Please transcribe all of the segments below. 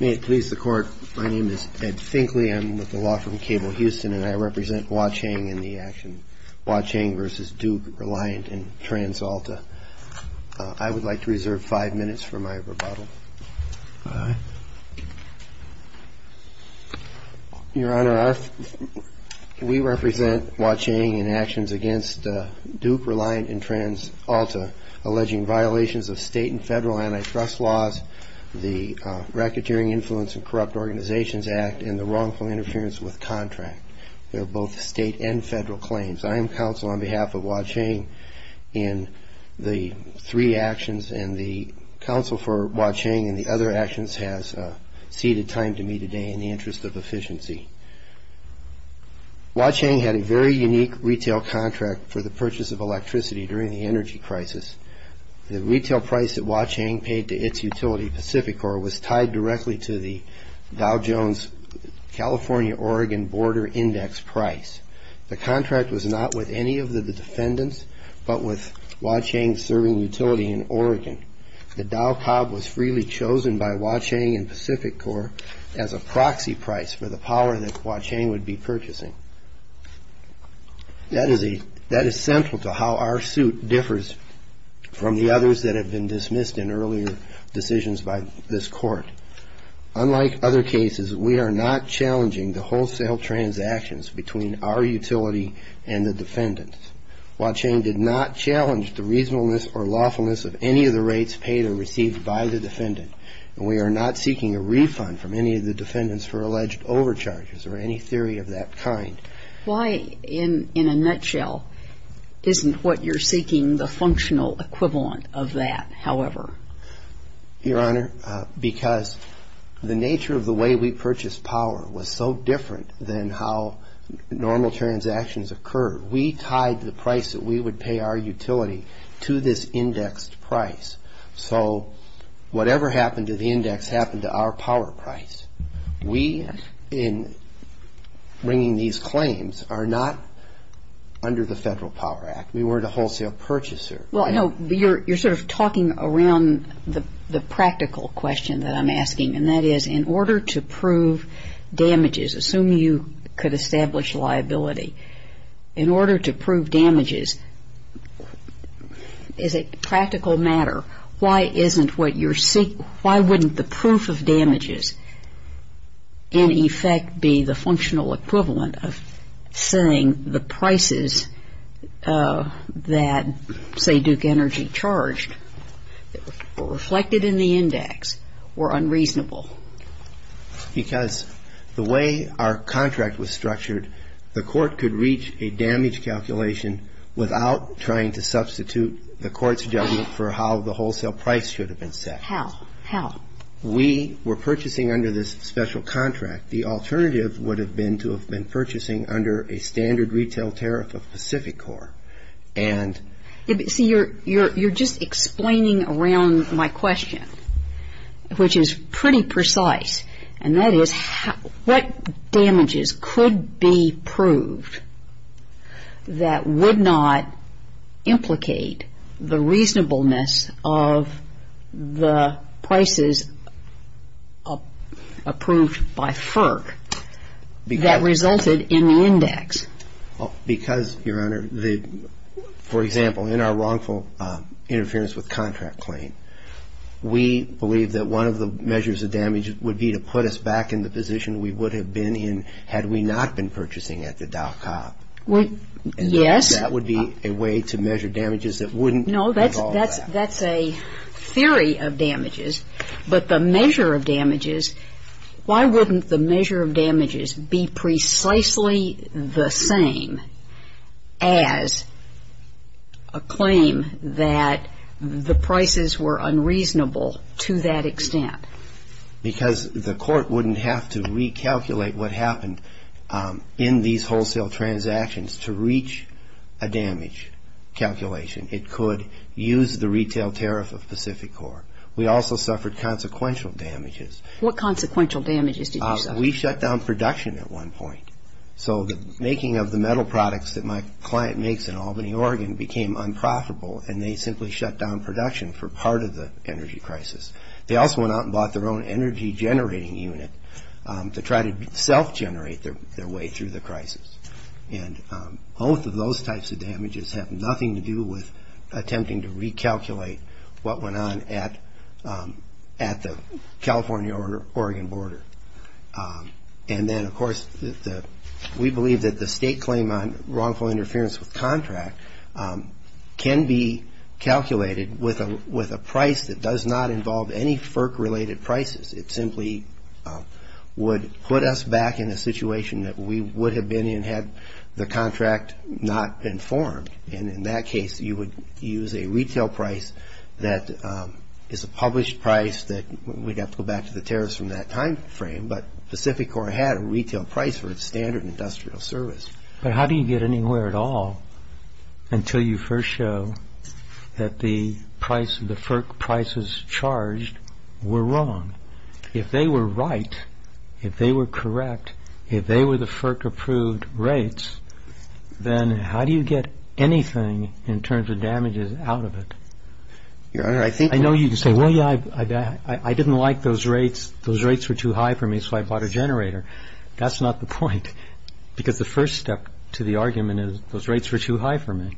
May it please the Court, my name is Ed Finkley, I'm with the law firm Cable Houston, and I represent Wah Chang in the action, Wah Chang v. Duke Reliant in TransAlta. I would like to reserve five minutes for my rebuttal. Your Honor, we represent Wah Chang in actions against Duke Reliant in TransAlta alleging violations of state and federal antitrust laws, the Racketeering Influence and Corrupt Organizations Act, and the wrongful interference with contract. They are both state and federal claims. I am counsel on behalf of Wah Chang in the three actions, and the counsel for Wah Chang and the other actions has ceded time to me today in the interest of efficiency. Wah Chang had a very unique retail contract for the purchase of electricity during the energy crisis. The retail price that Wah Chang paid to its utility, Pacificor, was tied directly to the Dow Jones California-Oregon Border Index price. The contract was not with any of the defendants, but with Wah Chang's serving utility in Oregon. The Dow Cob was freely chosen by Wah Chang and Pacificor as a proxy price for the power that Wah Chang would be purchasing. That is central to how our suit differs from the others that have been dismissed in earlier decisions by this Court. Unlike other cases, we are not challenging the wholesale transactions between our utility and the defendants. Why, in a nutshell, isn't what you're seeking the functional equivalent of that, however? Your Honor, because the nature of the way we purchased power was so different than how normal transactions occurred. We tied the price that we would pay our utility to this indexed price. So whatever happened to the index happened to our power price. We, in bringing these claims, are not under the Federal Power Act. We weren't a wholesale purchaser. Well, I know you're sort of talking around the practical question that I'm asking. And that is, in order to prove damages, assuming you could establish liability, in order to prove damages, is it practical matter, why isn't what you're seeking, why wouldn't the proof of damages in effect be the functional equivalent of saying the prices that, say, the utility would be paying, would be the price that the utility would be paying? Because the way our contract was structured, the Court could reach a damage calculation without trying to substitute the Court's judgment for how the wholesale price should have been set. How? How? We were purchasing under this special contract. The alternative would have been to have been purchasing under a standard retail tariff of Pacific Corp. And So you're just explaining around my question, which is pretty precise. And that is, what damages could be proved that would not implicate the reasonableness of the prices approved by FERC that resulted in the index? Because, Your Honor, for example, in our wrongful interference with contract claim, we believe that one of the measures of damage would be to put us back in the position we would have been in had we not been purchasing at the Dow Cop. Yes. And that would be a way to measure damages that wouldn't involve that. No, that's a theory of damages. But the measure of damages, why wouldn't the measure of damages be precisely the same as a claim that the prices were unreasonable to that extent? Because the Court wouldn't have to recalculate what happened in these wholesale transactions to reach a damage calculation. It could use the retail tariff of Pacific Corp. We also suffered consequential damages. What consequential damages did you suffer? We shut down production at one point. So the making of the metal products that my client makes in Albany, Oregon, became unprofitable, and they simply shut down production for part of the energy crisis. They also went out and bought their own energy generating unit to try to self-generate their way through the crisis. And both of those types of damages have nothing to do with attempting to recalculate what went on at the California-Oregon border. And then, of course, we believe that the state claim on wrongful interference with contract can be calculated with a price that does not involve any FERC-related prices. It simply would put us back in a situation that we would have been in had the contract not been formed. And in that case, you would use a retail price that is a published price that we'd have to go back to the tariffs from that time frame. But Pacific Corp. had a retail price for its standard industrial service. But how do you get anywhere at all until you first show that the FERC prices charged were wrong? If they were right, if they were correct, if they were the FERC-approved rates, then how do you get anything in terms of damages out of it? Your Honor, I think... I know you can say, well, yeah, I didn't like those rates. Those rates were too high for me, so I bought a generator. That's not the point, because the first step to the argument is those rates were too high for me.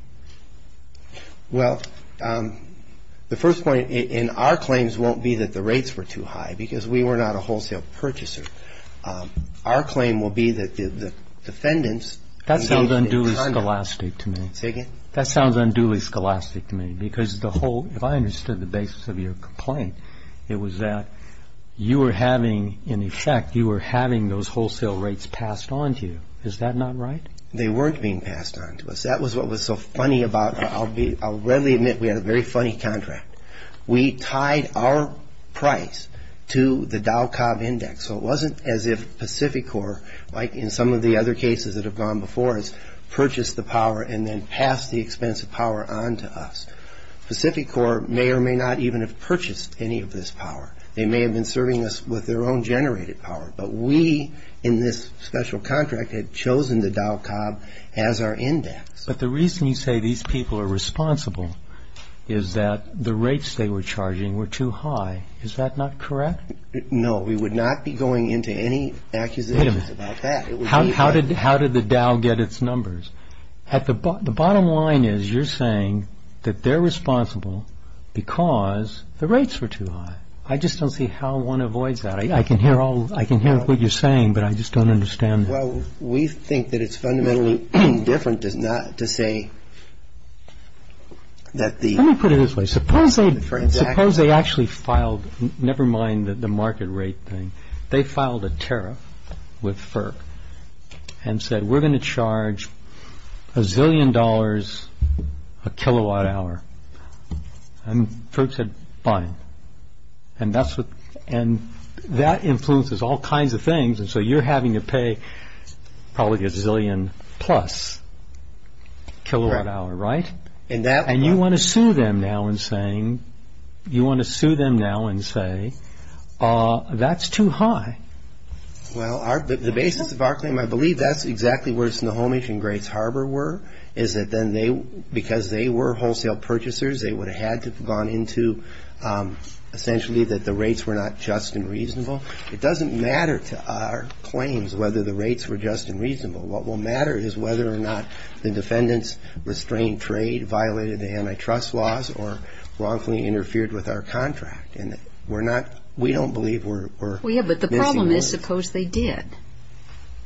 Well, the first point in our claims won't be that the rates were too high, because we were not a wholesale purchaser. Our claim will be that the defendants... That sounds unduly scholastic to me. Say again? That sounds unduly scholastic to me, because if I understood the basis of your complaint, it was that you were having, in effect, you were having those wholesale rates passed on to you. Is that not right? They weren't being passed on to us. That was what was so funny about... I'll readily admit we had a very funny contract. We tied our price to the Dow Cobb Index, so it wasn't as if Pacificor, like in some of the other cases that have gone before us, purchased the power and then passed the expensive power on to us. Pacificor may or may not even have purchased any of this power. They may have been serving us with their own generated power, but we, in this special contract, had chosen the Dow Cobb as our index. But the reason you say these people are responsible is that the rates they were charging were too high. Is that not correct? No, we would not be going into any accusations about that. How did the Dow get its numbers? The bottom line is you're saying that they're responsible because the rates were too high. I just don't see how one avoids that. I can hear what you're saying, but I just don't understand that. Well, we think that it's fundamentally different to say that the... ...and said, we're going to charge a zillion dollars a kilowatt hour. And Ferg said, fine. And that influences all kinds of things, and so you're having to pay probably a zillion plus kilowatt hour, right? Correct. And you want to sue them now and say, that's too high. Well, the basis of our claim, I believe that's exactly where Snohomish and Grays Harbor were, is that then they, because they were wholesale purchasers, they would have had to have gone into essentially that the rates were not just and reasonable. It doesn't matter to our claims whether the rates were just and reasonable. What will matter is whether or not the defendants restrained trade, violated the antitrust laws, or wrongfully interfered with our contract. We don't believe we're... Yeah, but the problem is, suppose they did.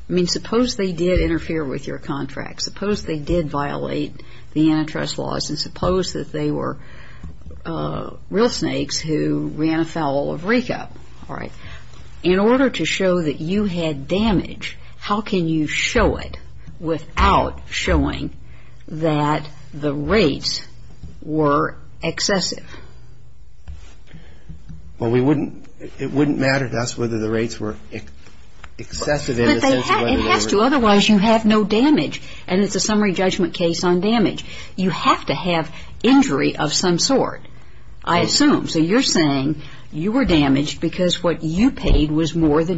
I mean, suppose they did interfere with your contract. Suppose they did violate the antitrust laws, and suppose that they were real snakes who ran afoul of RECA. In order to show that you had damage, how can you show it without showing that the rates were excessive? Well, we wouldn't, it wouldn't matter to us whether the rates were excessive in the sense of whether they were... Because what you paid was more than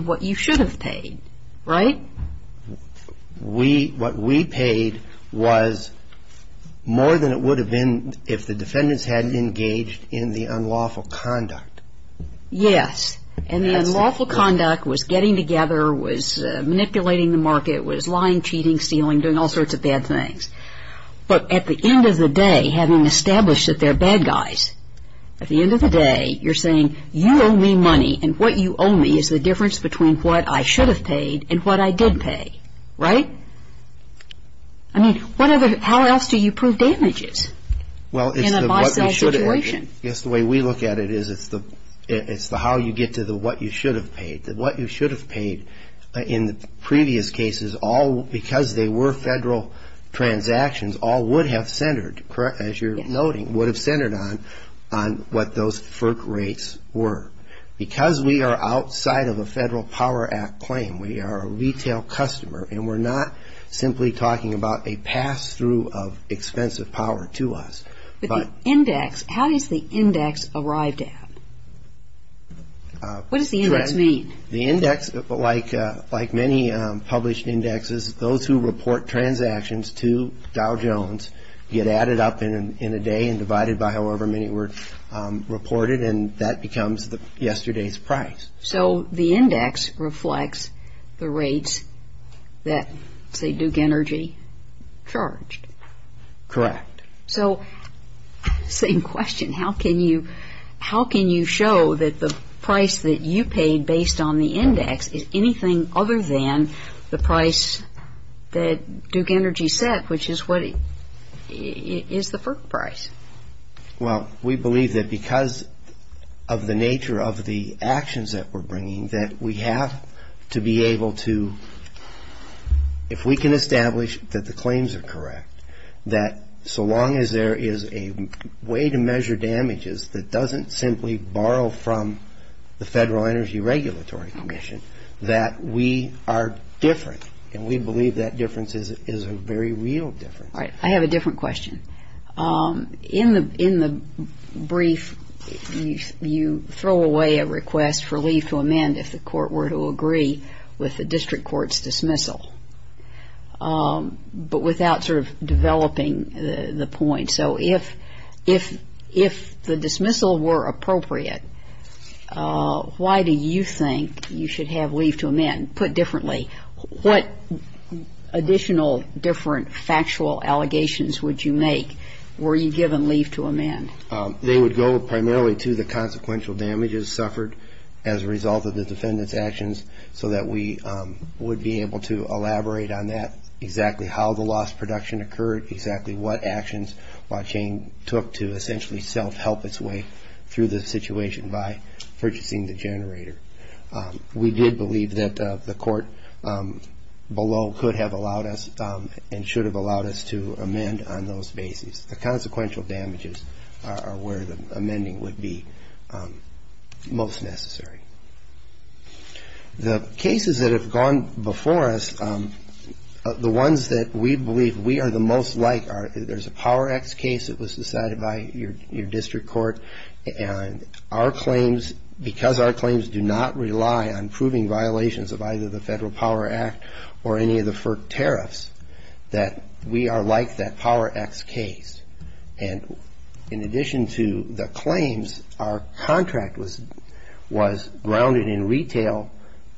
what you should have paid, right? We, what we paid was more than it would have been if the defendants hadn't engaged in the unlawful conduct. Yes, and the unlawful conduct was getting together, was manipulating the market, was lying, cheating, stealing, doing all sorts of bad things. But at the end of the day, having established that they're bad guys, at the end of the day, you're saying, you owe me money, and what you owe me is the difference between what I should have paid and what I did pay, right? I mean, what other, how else do you prove damages in a buy-sell situation? I guess the way we look at it is it's the, it's the how you get to the what you should have paid. What you should have paid in the previous cases, all, because they were federal transactions, all would have centered, as you're noting, would have centered on what those FERC rates were. Because we are outside of a Federal Power Act claim, we are a retail customer, and we're not simply talking about a pass-through of expensive power to us. But the index, how is the index arrived at? What does the index mean? The index, like many published indexes, those who report transactions to Dow Jones get added up in a day and divided by however many were reported, and that becomes yesterday's price. So the index reflects the rates that, say, Duke Energy charged? Correct. So, same question, how can you, how can you show that the price that you paid based on the index is anything other than the price that Duke Energy set, which is what, is the FERC price? Well, we believe that because of the nature of the actions that we're bringing, that we have to be able to, if we can establish that the claims are correct, that so long as there is a way to measure damages that doesn't simply borrow from the Federal Energy Regulatory Commission, that we are different. And we believe that difference is a very real difference. All right. I have a different question. In the brief, you throw away a request for leave to amend if the court were to agree with the district court's dismissal, but without sort of developing the point. So if the dismissal were appropriate, why do you think you should have leave to amend? Put differently, what additional different factual allegations would you make were you given leave to amend? They would go primarily to the consequential damages suffered as a result of the defendant's actions, so that we would be able to elaborate on that, exactly how the loss production occurred, exactly what actions Wanchain took to essentially self-help its way through the situation by purchasing the generator. We did believe that the court below could have allowed us and should have allowed us to amend on those basis. The consequential damages are where the amending would be most necessary. The cases that have gone before us, the ones that we believe we are the most like, there's a Power X case that was decided by your district court. And our claims, because our claims do not rely on proving violations of either the Federal Power Act or any of the FERC tariffs, that we are like that Power X case. And in addition to the claims, our contract was grounded in retail,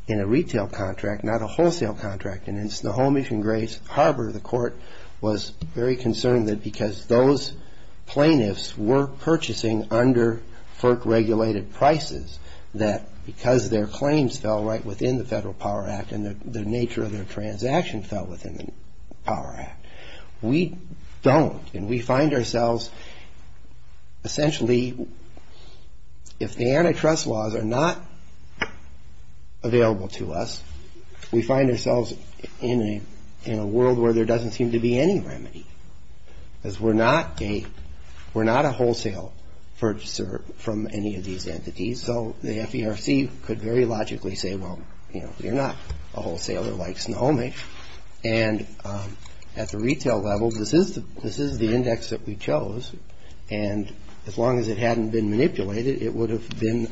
in a retail contract, not a wholesale contract. And in Snohomish and Grays Harbor, the court was very concerned that because those plaintiffs were purchasing under FERC regulated prices, that because their claims fell right within the Federal Power Act and the nature of their transaction fell within the Power Act. We don't, and we find ourselves essentially, if the antitrust laws are not available to us, we find ourselves in a world where there doesn't seem to be any remedy. Because we're not a wholesale purchaser from any of these entities. So the FERC could very logically say, well, you know, you're not a wholesaler like Snohomish. And at the retail level, this is the index that we chose. And as long as it hadn't been manipulated, it would have been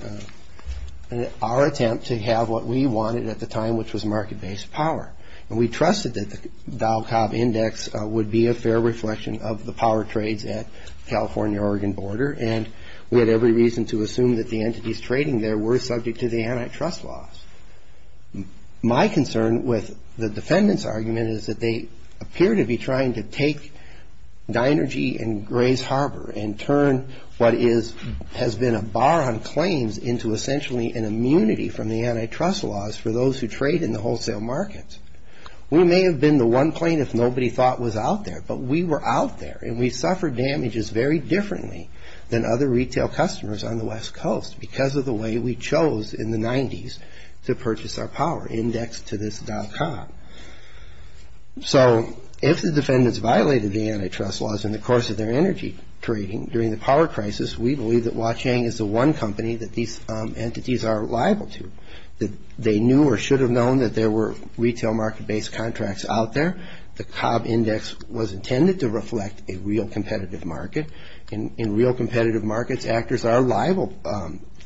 our attempt to have what we wanted at the time, which was market-based power. And we trusted that the Val Cobb Index would be a fair reflection of the power trades at the California-Oregon border. And we had every reason to assume that the entities trading there were subject to the antitrust laws. My concern with the defendant's argument is that they appear to be trying to take Dinergy and Gray's Harbor and turn what has been a bar on claims into essentially an immunity from the antitrust laws for those who trade in the wholesale markets. We may have been the one plaintiff nobody thought was out there, but we were out there. And we suffered damages very differently than other retail customers on the West Coast because of the way we chose in the 90s to purchase our power indexed to this Val Cobb. So if the defendants violated the antitrust laws in the course of their energy trading during the power crisis, we believe that Huaqiang is the one company that these entities are liable to. They knew or should have known that there were retail market-based contracts out there. The Cobb Index was intended to reflect a real competitive market. In real competitive markets, actors are liable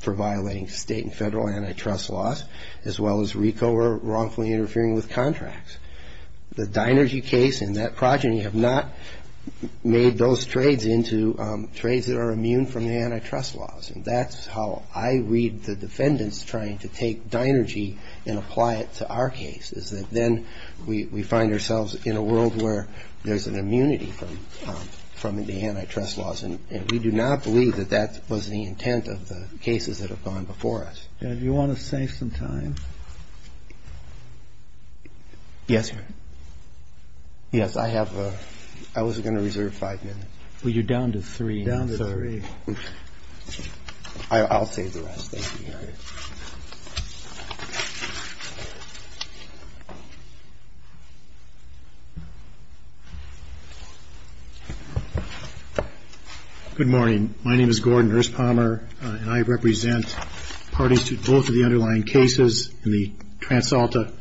for violating state and federal antitrust laws, as well as RICO or wrongfully interfering with contracts. The Dinergy case and that progeny have not made those trades into trades that are immune from the antitrust laws. And that's how I read the defendants trying to take Dinergy and apply it to our case, is that then we find ourselves in a world where there's an immunity from the antitrust laws. And we do not believe that that was the intent of the cases that have gone before us. And if you want to save some time. Yes, Your Honor. Yes, I have a ‑‑ I was going to reserve five minutes. Well, you're down to three. Down to three. I'll save the rest. Thank you, Your Honor. Good morning. My name is Gordon Erspommer, and I represent parties to both of the underlying cases, the Transalta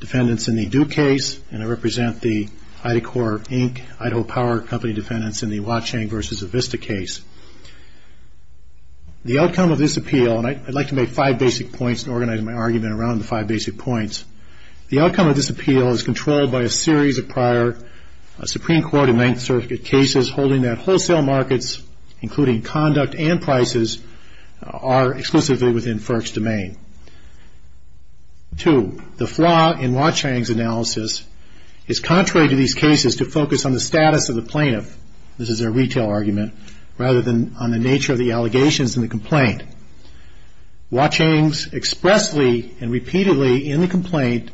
defendants in the Duke case, and I represent the IdaCorp, Inc., Idaho Power Company defendants in the Huacheng v. Avista case. The outcome of this appeal, and I'd like to make five basic points and organize my argument around the five basic points. The outcome of this appeal is controlled by a series of prior Supreme Court and Ninth Circuit cases holding that wholesale markets, including conduct and prices, are exclusively within FERC's domain. Two, the flaw in Huacheng's analysis is contrary to these cases to focus on the status of the plaintiff, this is a retail argument, rather than on the nature of the allegations in the complaint. Huacheng expressly and repeatedly in the complaint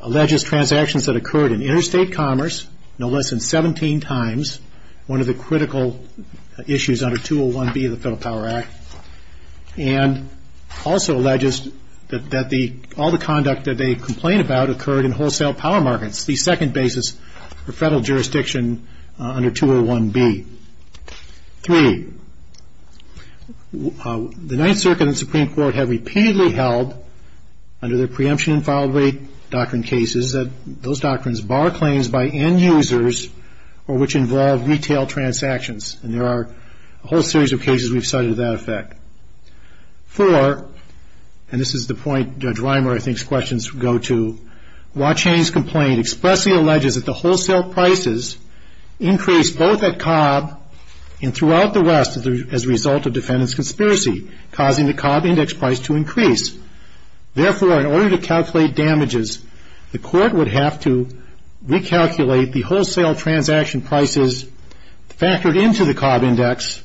alleges transactions that occurred in interstate commerce no less than 17 times, one of the critical issues under 201B of the Federal Power Act, and also alleges that all the conduct that they complain about occurred in wholesale power markets, the second basis for Federal jurisdiction under 201B. Three, the Ninth Circuit and Supreme Court have repeatedly held, under their preemption and foul rate doctrine cases, that those doctrines bar claims by end users or which involve retail transactions, and there are a whole series of cases we've cited to that effect. Four, and this is the point Judge Reimer, I think, questions go to, Huacheng's complaint expressly alleges that the wholesale prices increased both at Cobb and throughout the West as a result of defendant's conspiracy, causing the Cobb index price to increase. Therefore, in order to calculate damages, the court would have to recalculate the wholesale transaction prices factored into the Cobb index,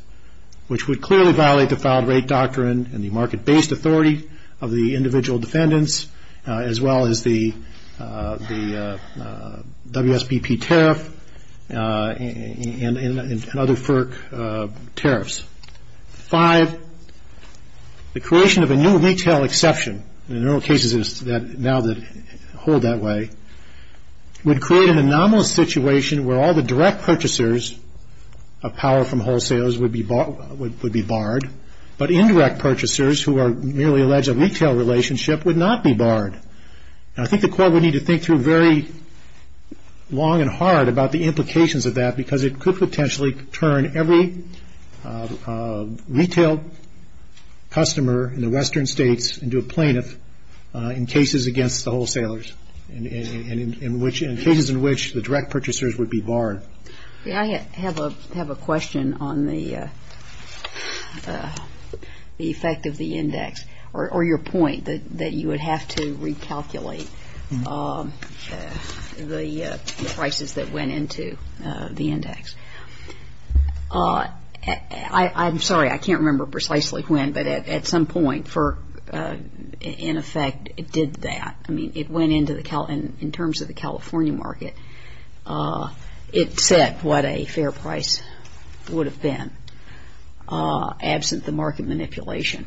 which would clearly violate the foul rate doctrine and the market-based authority of the individual defendants, as well as the WSPP tariff and other FERC tariffs. Five, the creation of a new retail exception, and there are cases now that hold that way, would create an anomalous situation where all the direct purchasers of power from wholesalers would be barred, but indirect purchasers who are merely alleged of retail relationship would not be barred. And I think the court would need to think through very long and hard about the implications of that because it could potentially turn every retail customer in the western states into a plaintiff in cases against the wholesalers and in cases in which the direct purchasers would be barred. I have a question on the effect of the index, or your point that you would have to recalculate the prices that went into the index. I'm sorry, I can't remember precisely when, but at some point FERC, in effect, did that. I mean, it went into the Cal, in terms of the California market, it set what a fair price would have been, absent the market manipulation.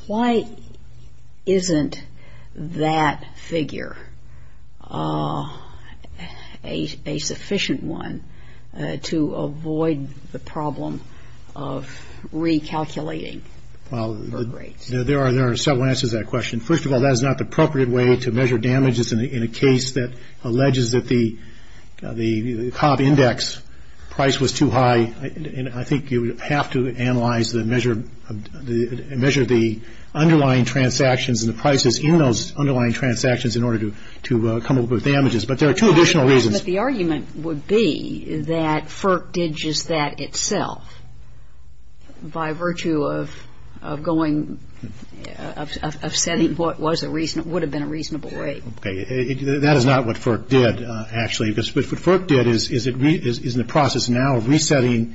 Why isn't that figure a sufficient one to avoid the problem of recalculating rates? There are several answers to that question. First of all, that is not the appropriate way to measure damages in a case that alleges that the Cobb index price was too high. I think you would have to analyze the measure of the underlying transactions and the prices in those underlying transactions in order to come up with damages. But there are two additional reasons. But the argument would be that FERC did just that itself by virtue of going, of setting what would have been a reasonable rate. Okay. That is not what FERC did, actually, because what FERC did is in the process now of resetting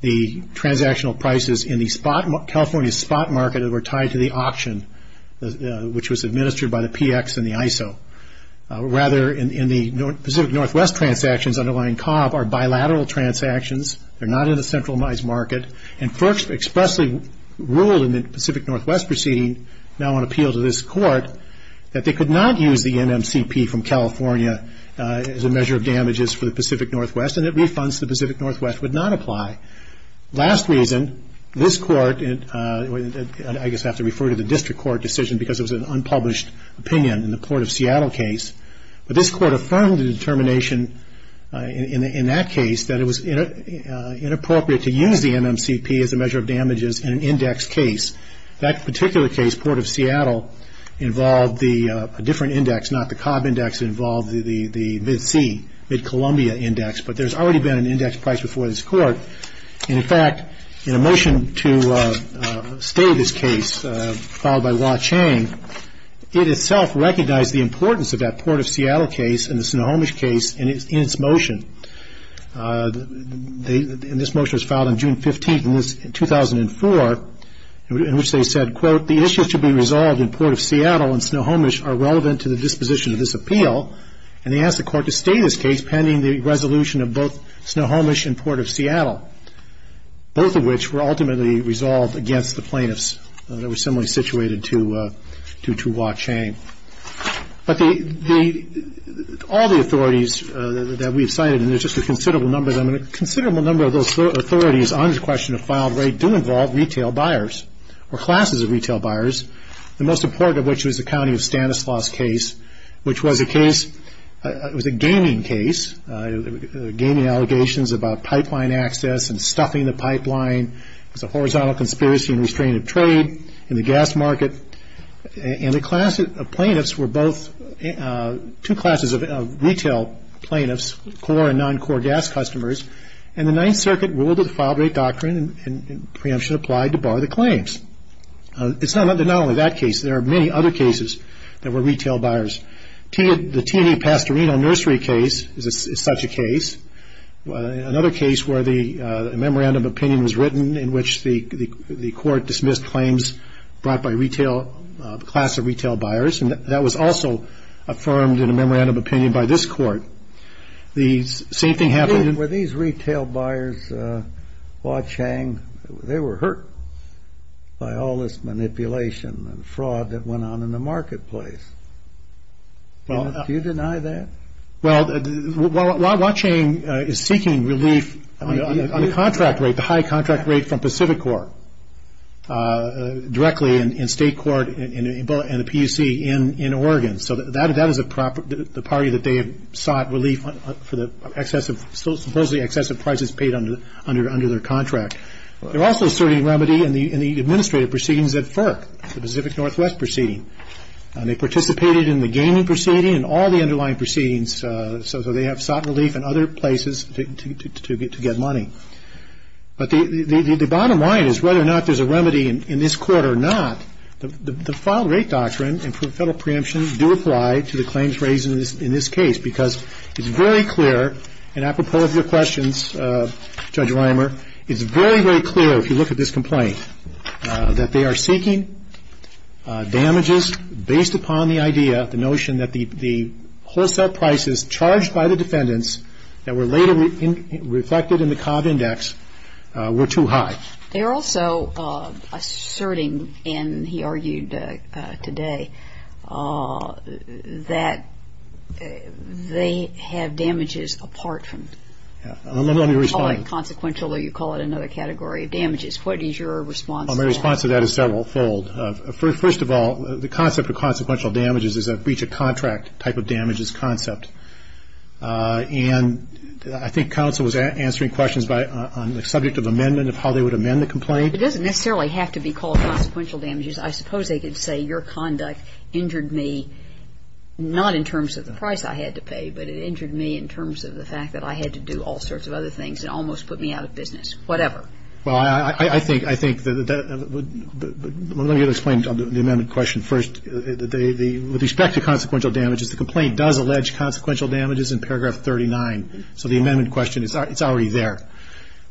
the transactional prices in the California spot market that were tied to the auction, which was administered by the PX and the ISO. Rather, in the Pacific Northwest transactions underlying Cobb are bilateral transactions. They're not in the centralized market. And FERC expressly ruled in the Pacific Northwest proceeding, now on appeal to this court, that they could not use the NMCP from California as a measure of damages for the Pacific Northwest, and that refunds to the Pacific Northwest would not apply. Last reason, this court, I guess I have to refer to the district court decision because it was an unpublished opinion in the Port of Seattle case. But this court affirmed the determination in that case that it was inappropriate to use the NMCP as a measure of damages in an index case. That particular case, Port of Seattle, involved a different index, not the Cobb index. It involved the Mid-C, Mid-Columbia index. And, in fact, in a motion to stay this case, followed by Wah Chang, it itself recognized the importance of that Port of Seattle case and the Snohomish case in its motion. And this motion was filed on June 15, 2004, in which they said, quote, the issues to be resolved in Port of Seattle and Snohomish are relevant to the disposition of this appeal. And they asked the court to stay this case pending the resolution of both Snohomish and Port of Seattle, both of which were ultimately resolved against the plaintiffs that were similarly situated to Wah Chang. But all the authorities that we've cited, and there's just a considerable number of them, and a considerable number of those authorities on this question of filed rate do involve retail buyers or classes of retail buyers, the most important of which was the County of Stanislaus case, which was a case, it was a gaming case, gaming allegations about pipeline access and stuffing the pipeline. It was a horizontal conspiracy and restraint of trade in the gas market. And the plaintiffs were both two classes of retail plaintiffs, core and non-core gas customers. And the Ninth Circuit ruled that the filed rate doctrine and preemption applied to bar the claims. It's not only that case. There are many other cases that were retail buyers. The T.E. Pastorino nursery case is such a case. Another case where the memorandum of opinion was written in which the court dismissed claims brought by retail, class of retail buyers, and that was also affirmed in a memorandum of opinion by this court. The same thing happened in the... by all this manipulation and fraud that went on in the marketplace. Do you deny that? Well, Watt Chain is seeking relief on the contract rate, the high contract rate from Pacific Corp, directly in state court and the PUC in Oregon. So that is the party that they sought relief for the supposedly excessive prices paid under their contract. They're also asserting remedy in the administrative proceedings at FERC, the Pacific Northwest Proceeding. They participated in the gaming proceeding and all the underlying proceedings, so they have sought relief in other places to get money. But the bottom line is whether or not there's a remedy in this court or not, the filed rate doctrine and federal preemption do apply to the claims raised in this case because it's very clear, and apropos of your questions, Judge Reimer, it's very, very clear if you look at this complaint that they are seeking damages based upon the idea, the notion that the wholesale prices charged by the defendants that were later reflected in the Cobb Index were too high. They are also asserting, and he argued today, that they have damages apart from. Let me respond. You call it consequential or you call it another category of damages. What is your response to that? My response to that is several fold. First of all, the concept of consequential damages is a breach of contract type of damages concept. And I think counsel was answering questions on the subject of amendment of how they would amend the complaint. It doesn't necessarily have to be called consequential damages. I suppose they could say your conduct injured me, not in terms of the price I had to pay, but it injured me in terms of the fact that I had to do all sorts of other things. It almost put me out of business, whatever. Well, I think, I think that, let me explain the amendment question first. With respect to consequential damages, the complaint does allege consequential damages in paragraph 39. So the amendment question, it's already there.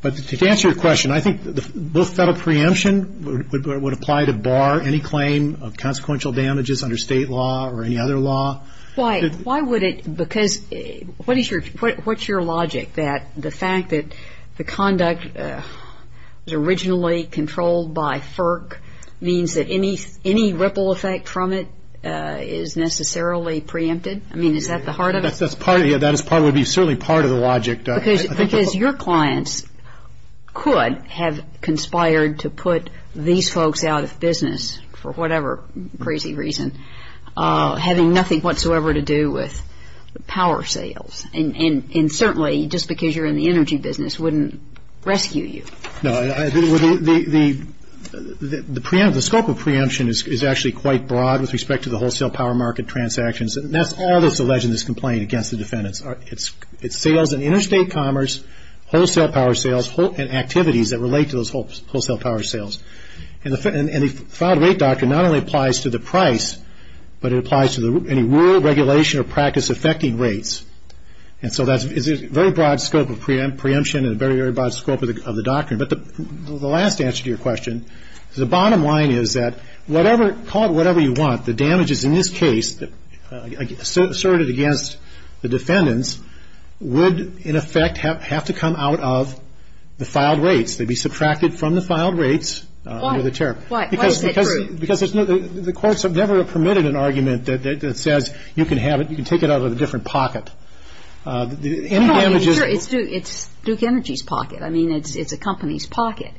But to answer your question, I think both federal preemption would apply to bar any claim of consequential damages under state law or any other law. Why, why would it, because what is your, what's your logic that the fact that the conduct was originally controlled by FERC means that any, any ripple effect from it is necessarily preempted? I mean, is that the heart of it? That's part of it. That would be certainly part of the logic. Because your clients could have conspired to put these folks out of business for whatever crazy reason, having nothing whatsoever to do with power sales. And certainly, just because you're in the energy business wouldn't rescue you. No. The scope of preemption is actually quite broad with respect to the wholesale power market transactions. And that's all that's alleged in this complaint against the defendants. It's sales and interstate commerce, wholesale power sales, and activities that relate to those wholesale power sales. And the filed rate doctrine not only applies to the price, but it applies to any rule, regulation, or practice affecting rates. And so that's a very broad scope of preemption and a very, very broad scope of the doctrine. But the last answer to your question is the bottom line is that whatever, call it whatever you want, the damages in this case asserted against the defendants would, in effect, have to come out of the filed rates. They'd be subtracted from the filed rates under the chair. Why is that true? Because the courts have never permitted an argument that says you can have it, you can take it out of a different pocket. It's Duke Energy's pocket. I mean, it's a company's pocket.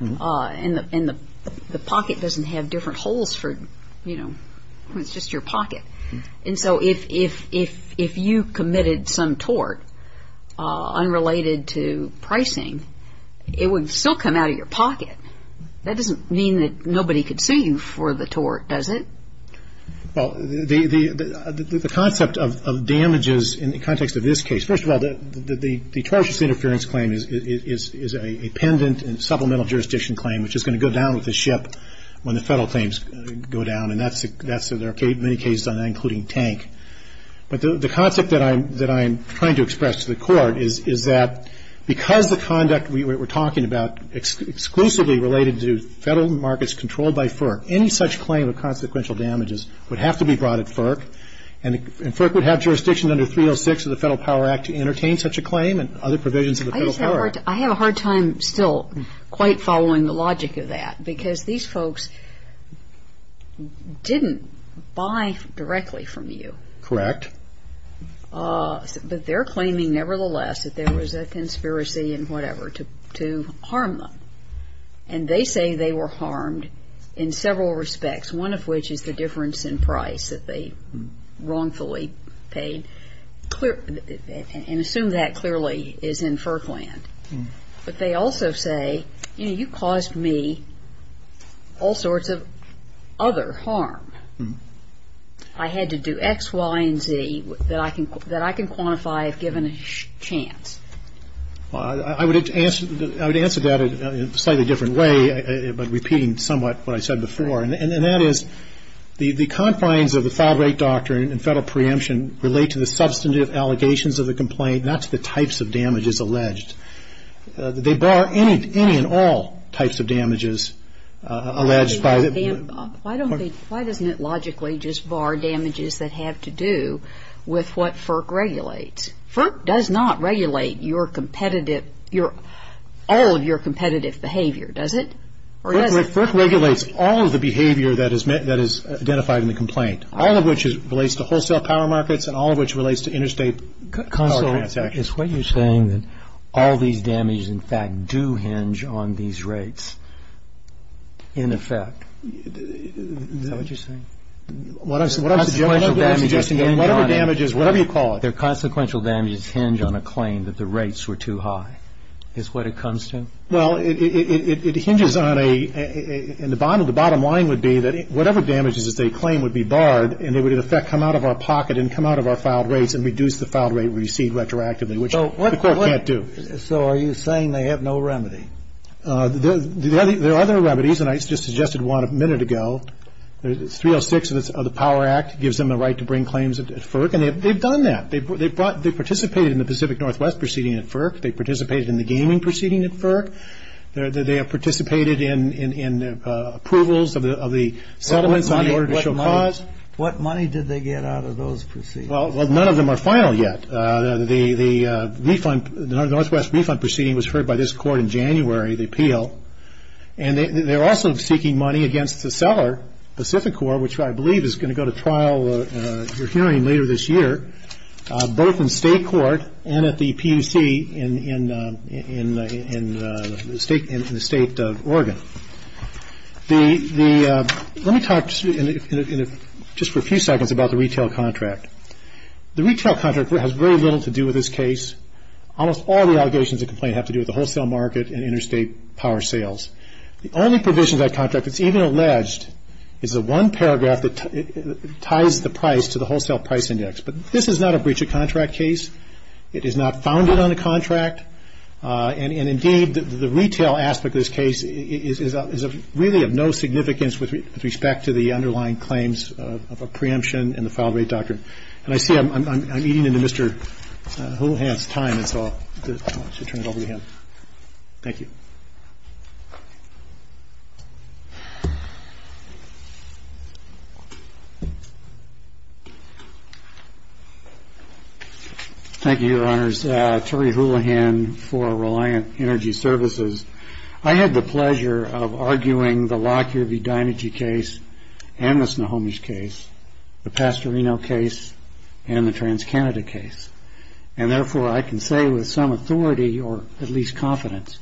And the pocket doesn't have different holes for, you know, it's just your pocket. And so if you committed some tort unrelated to pricing, it would still come out of your pocket. That doesn't mean that nobody could sue you for the tort, does it? Well, the concept of damages in the context of this case, first of all, the tortious interference claim is a pendant and supplemental jurisdiction claim, which is going to go down with the ship when the federal claims go down. And that's, there are many cases on that, including Tank. But the concept that I'm trying to express to the Court is that because the conduct we're talking about exclusively related to federal markets controlled by FERC, any such claim of consequential damages would have to be brought at FERC. And FERC would have jurisdiction under 306 of the Federal Power Act to entertain such a claim and other provisions of the Federal Power Act. I have a hard time still quite following the logic of that, because these folks didn't buy directly from you. Correct. But they're claiming, nevertheless, that there was a conspiracy and whatever to harm them. And they say they were harmed in several respects, one of which is the difference in price that they wrongfully paid. And assume that clearly is in FERC land. But they also say, you know, you caused me all sorts of other harm. I had to do X, Y, and Z that I can quantify if given a chance. I would answer that in a slightly different way, but repeating somewhat what I said before. And that is, the confines of the file rate doctrine and federal preemption relate to the substantive allegations of the complaint, not to the types of damages alleged. They bar any and all types of damages alleged by the. Why doesn't it logically just bar damages that have to do with what FERC regulates? FERC does not regulate your competitive, all of your competitive behavior, does it? FERC regulates all of the behavior that is identified in the complaint, all of which relates to wholesale power markets and all of which relates to interstate power transactions. Counsel, is what you're saying that all these damages, in fact, do hinge on these rates in effect? Is that what you're saying? What I'm suggesting is whatever damages, whatever you call it. Their consequential damages hinge on a claim that the rates were too high is what it comes to? Well, it hinges on a – and the bottom line would be that whatever damages they claim would be barred and they would in effect come out of our pocket and come out of our filed rates and reduce the filed rate received retroactively, which the Court can't do. So are you saying they have no remedy? There are other remedies, and I just suggested one a minute ago. 306 of the Power Act gives them the right to bring claims at FERC, and they've done that. They participated in the Pacific Northwest proceeding at FERC. They participated in the gaming proceeding at FERC. They have participated in approvals of the settlements on the order to show cause. What money did they get out of those proceedings? Well, none of them are final yet. The Northwest refund proceeding was heard by this Court in January, the appeal, and they're also seeking money against the seller, Pacificor, which I believe is going to go to trial, you're hearing, later this year, both in state court and at the PUC in the state of Oregon. Let me talk just for a few seconds about the retail contract. The retail contract has very little to do with this case. Almost all the allegations of complaint have to do with the wholesale market and interstate power sales. The only provision of that contract that's even alleged is the one paragraph that ties the price to the Wholesale Price Index. But this is not a breach of contract case. It is not founded on the contract. And, indeed, the retail aspect of this case is really of no significance with respect to the underlying claims of a preemption in the file rate doctrine. And I see I'm eating into Mr. Houlihan's time, and so I'll turn it over to him. Thank you. Thank you, Your Honors. Terry Houlihan for Reliant Energy Services. I had the pleasure of arguing the Lockyer v. Dinegy case and the Snohomish case, the Pastorino case, and the TransCanada case. And, therefore, I can say with some authority or at least confidence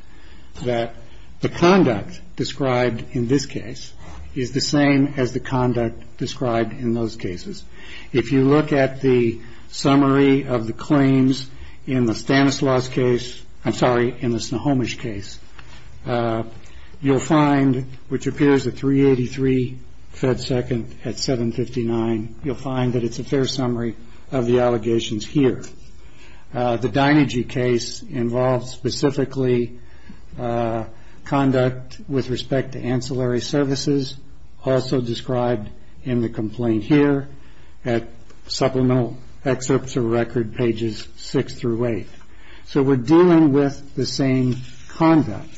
that the conduct described in this case is the same as the conduct described in those cases. If you look at the summary of the claims in the Stanislaus case, I'm sorry, in the Snohomish case, you'll find, which appears at 383 Fed Second at 759, you'll find that it's a fair summary of the allegations here. The Dinegy case involves specifically conduct with respect to ancillary services, also described in the complaint here at supplemental excerpts of record pages 6 through 8. So we're dealing with the same conduct.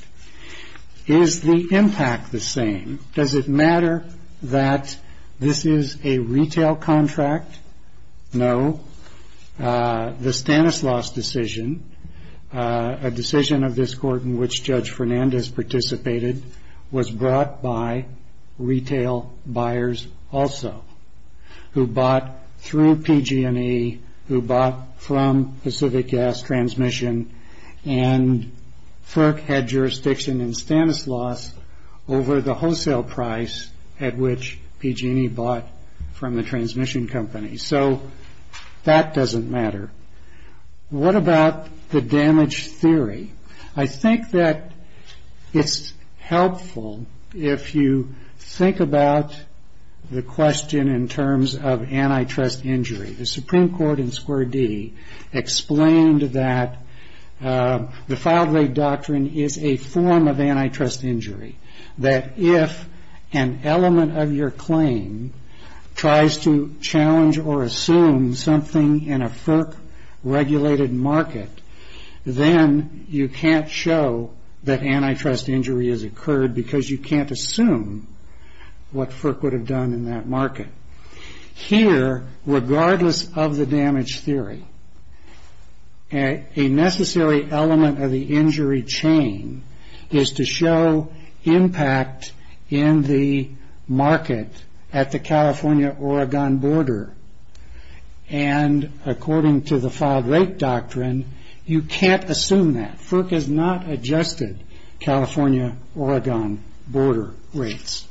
Is the impact the same? Does it matter that this is a retail contract? No. The Stanislaus decision, a decision of this court in which Judge Fernandez participated, was brought by retail buyers also who bought through PG&E, who bought from Pacific Gas Transmission, and FERC had jurisdiction in Stanislaus over the wholesale price at which PG&E bought from the transmission company. So that doesn't matter. What about the damage theory? I think that it's helpful if you think about the question in terms of antitrust injury. The Supreme Court in Square D explained that the filed-late doctrine is a form of antitrust injury, that if an element of your claim tries to challenge or assume something in a FERC-regulated market, then you can't show that antitrust injury has occurred because you can't assume what FERC would have done in that market. Here, regardless of the damage theory, a necessary element of the injury chain is to show impact in the market at the California-Oregon border, and according to the filed-late doctrine, you can't assume that. FERC has not adjusted California-Oregon border rates,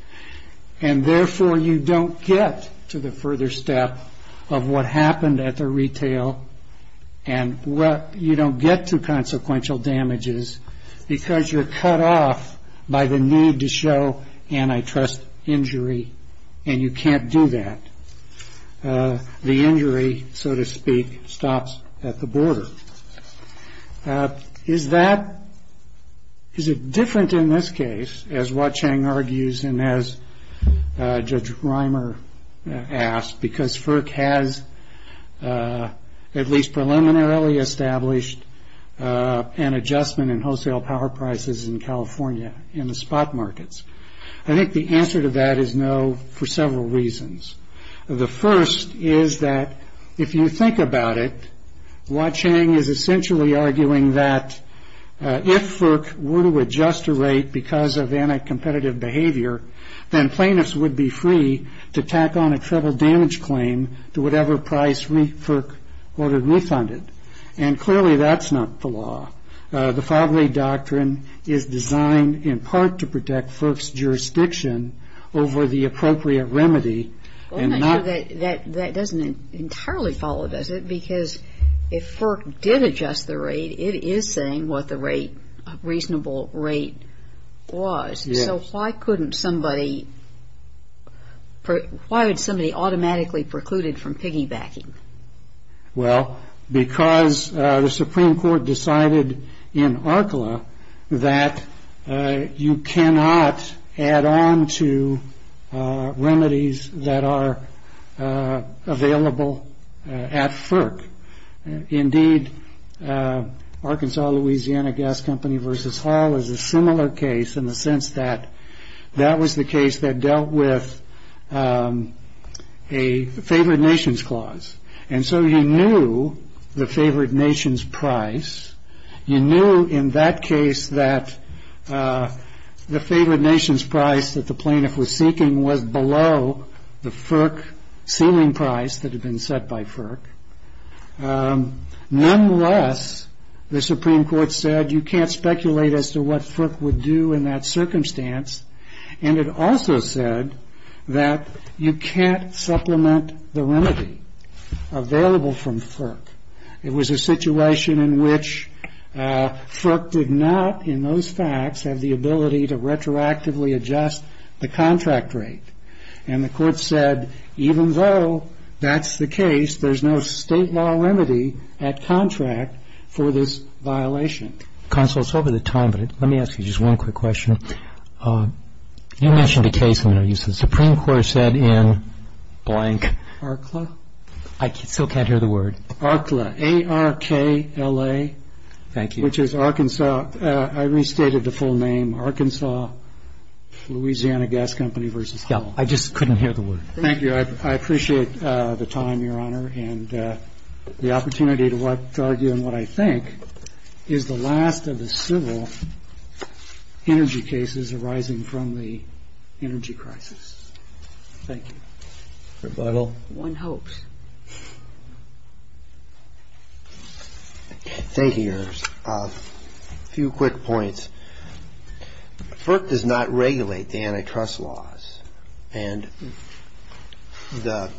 and therefore you don't get to the further step of what happened at the retail, and you don't get to consequential damages because you're cut off by the need to show antitrust injury, and you can't do that. The injury, so to speak, stops at the border. Is it different in this case, as Hua Cheng argues and as Judge Reimer asked, because FERC has at least preliminarily established an adjustment in wholesale power prices in California in the spot markets? I think the answer to that is no for several reasons. The first is that if you think about it, Hua Cheng is essentially arguing that if FERC were to adjust a rate because of anti-competitive behavior, then plaintiffs would be free to tack on a treble damage claim to whatever price FERC ordered refunded, and clearly that's not the law. The filed-late doctrine is designed in part to protect FERC's jurisdiction over the appropriate remedy Well, I'm not sure that that doesn't entirely follow, does it? Because if FERC did adjust the rate, it is saying what the rate, reasonable rate was. So why couldn't somebody, why would somebody automatically precluded from piggybacking? Well, because the Supreme Court decided in ARCLA that you cannot add on to remedies that are available at FERC. Indeed, Arkansas-Louisiana Gas Company v. Hall is a similar case in the sense that that was the case that dealt with a favored-nations clause. And so you knew the favored-nations price. You knew in that case that the favored-nations price that the plaintiff was seeking was below the FERC ceiling price that had been set by FERC. Nonetheless, the Supreme Court said you can't speculate as to what FERC would do in that circumstance. And it also said that you can't supplement the remedy available from FERC. It was a situation in which FERC did not in those facts have the ability to retroactively adjust the contract rate. And the Court said even though that's the case, there's no State law remedy at contract for this violation. Consul, it's over the time, but let me ask you just one quick question. You mentioned a case in there. You said the Supreme Court said in blank. ARCLA? I still can't hear the word. ARCLA, A-R-K-L-A. Thank you. Which is Arkansas. I restated the full name. Arkansas, Louisiana Gas Company v. Powell. Yeah. I just couldn't hear the word. Thank you. I appreciate the time, Your Honor. And the opportunity to argue in what I think is the last of the civil energy cases arising from the energy crisis. Thank you. Rebuttal. One hopes. Thank you, Your Honor. A few quick points. FERC does not regulate the antitrust laws. And the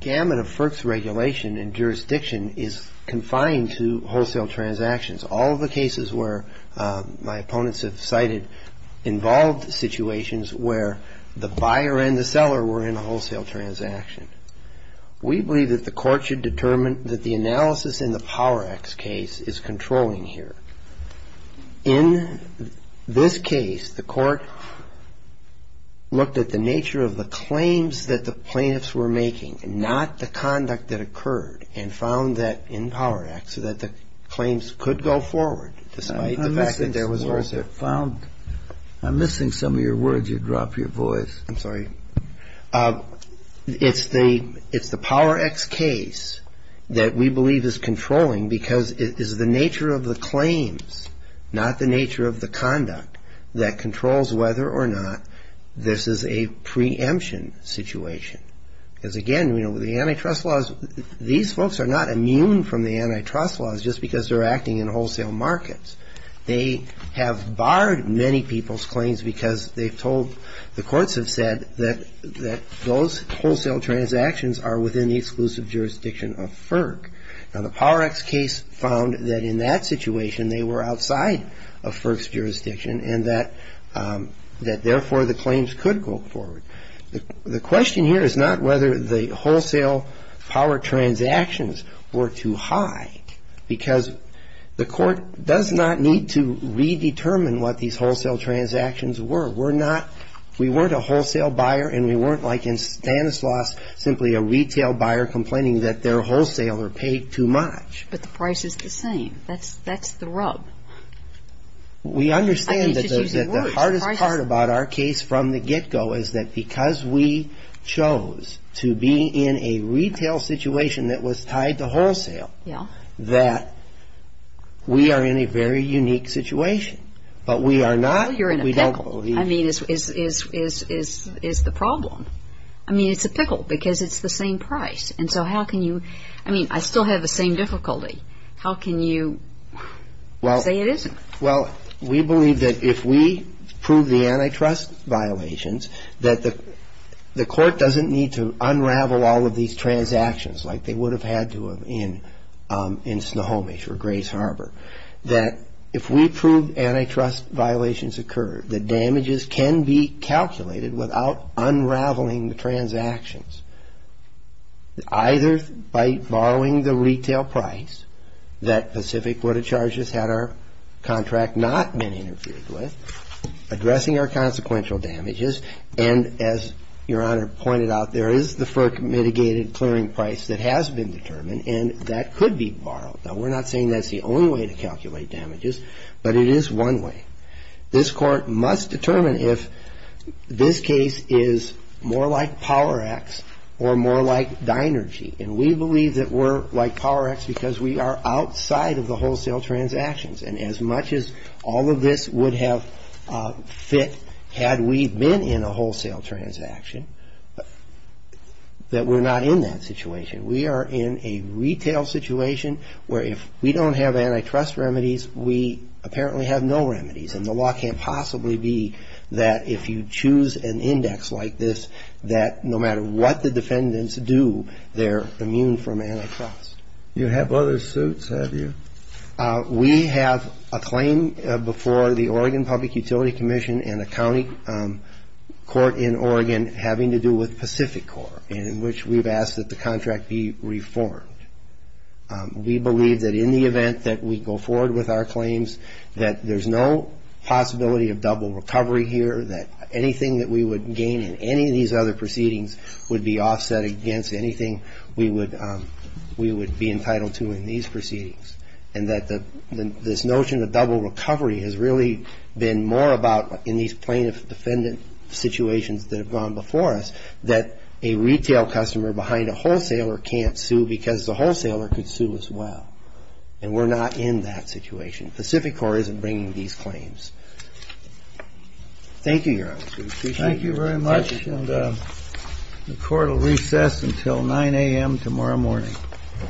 gamut of FERC's regulation and jurisdiction is confined to wholesale transactions. All of the cases where my opponents have cited involved situations where the buyer and the seller were in a wholesale transaction. We believe that the Court should determine that the analysis in the Power Act's case is controlling here. In this case, the Court looked at the nature of the claims that the plaintiffs were making, not the conduct that occurred, and found that in Power Act, so that the claims could go forward despite the fact that there was a lawsuit. I'm missing some of your words. You dropped your voice. I'm sorry. It's the Power Act's case that we believe is controlling because it is the nature of the claims, not the nature of the conduct that controls whether or not this is a preemption situation. Because, again, the antitrust laws, these folks are not immune from the antitrust laws just because they're acting in wholesale markets. They have barred many people's claims because they've told, the courts have said, that those wholesale transactions are within the exclusive jurisdiction of FERC. Now, the Power Act's case found that in that situation they were outside of FERC's jurisdiction and that therefore the claims could go forward. The question here is not whether the wholesale power transactions were too high, because the court does not need to redetermine what these wholesale transactions were. We're not, we weren't a wholesale buyer and we weren't like in Stanislaus simply a retail buyer complaining that their wholesale were paid too much. But the price is the same. That's the rub. We understand that the hardest part about our case from the get-go is that because we chose to be in a retail situation that was tied to wholesale that we are in a very unique situation. But we are not. Well, you're in a pickle. I mean, is the problem. I mean, it's a pickle because it's the same price. And so how can you, I mean, I still have the same difficulty. How can you say it isn't? Well, we believe that if we prove the antitrust violations, that the court doesn't need to unravel all of these transactions like they would have had to in Snohomish or Grace Harbor, that if we prove antitrust violations occur, the damages can be calculated without unraveling the transactions. Either by borrowing the retail price that Pacific Quota Charges had our contract not been interfered with, addressing our consequential damages. And as Your Honor pointed out, there is the FERC mitigated clearing price that has been determined, and that could be borrowed. Now, we're not saying that's the only way to calculate damages, but it is one way. This Court must determine if this case is more like Power-X or more like Dinergy. And we believe that we're like Power-X because we are outside of the wholesale transactions. And as much as all of this would have fit had we been in a wholesale transaction, that we're not in that situation. We are in a retail situation where if we don't have antitrust remedies, we apparently have no remedies. And the law can't possibly be that if you choose an index like this, that no matter what the defendants do, they're immune from antitrust. You have other suits, have you? We have a claim before the Oregon Public Utility Commission and a county court in Oregon having to do with Pacific Corp, in which we've asked that the contract be reformed. We believe that in the event that we go forward with our claims, that there's no possibility of double recovery here, that anything that we would gain in any of these other proceedings would be offset against anything we would be entitled to in these proceedings. And that this notion of double recovery has really been more about in these plaintiff-defendant situations that have gone before us that a retail customer behind a wholesaler can't sue because the wholesaler could sue as well. And we're not in that situation. Pacific Corp isn't bringing these claims. Thank you, Your Honor. We appreciate it. Thank you very much. The court will recess until 9 a.m. tomorrow morning.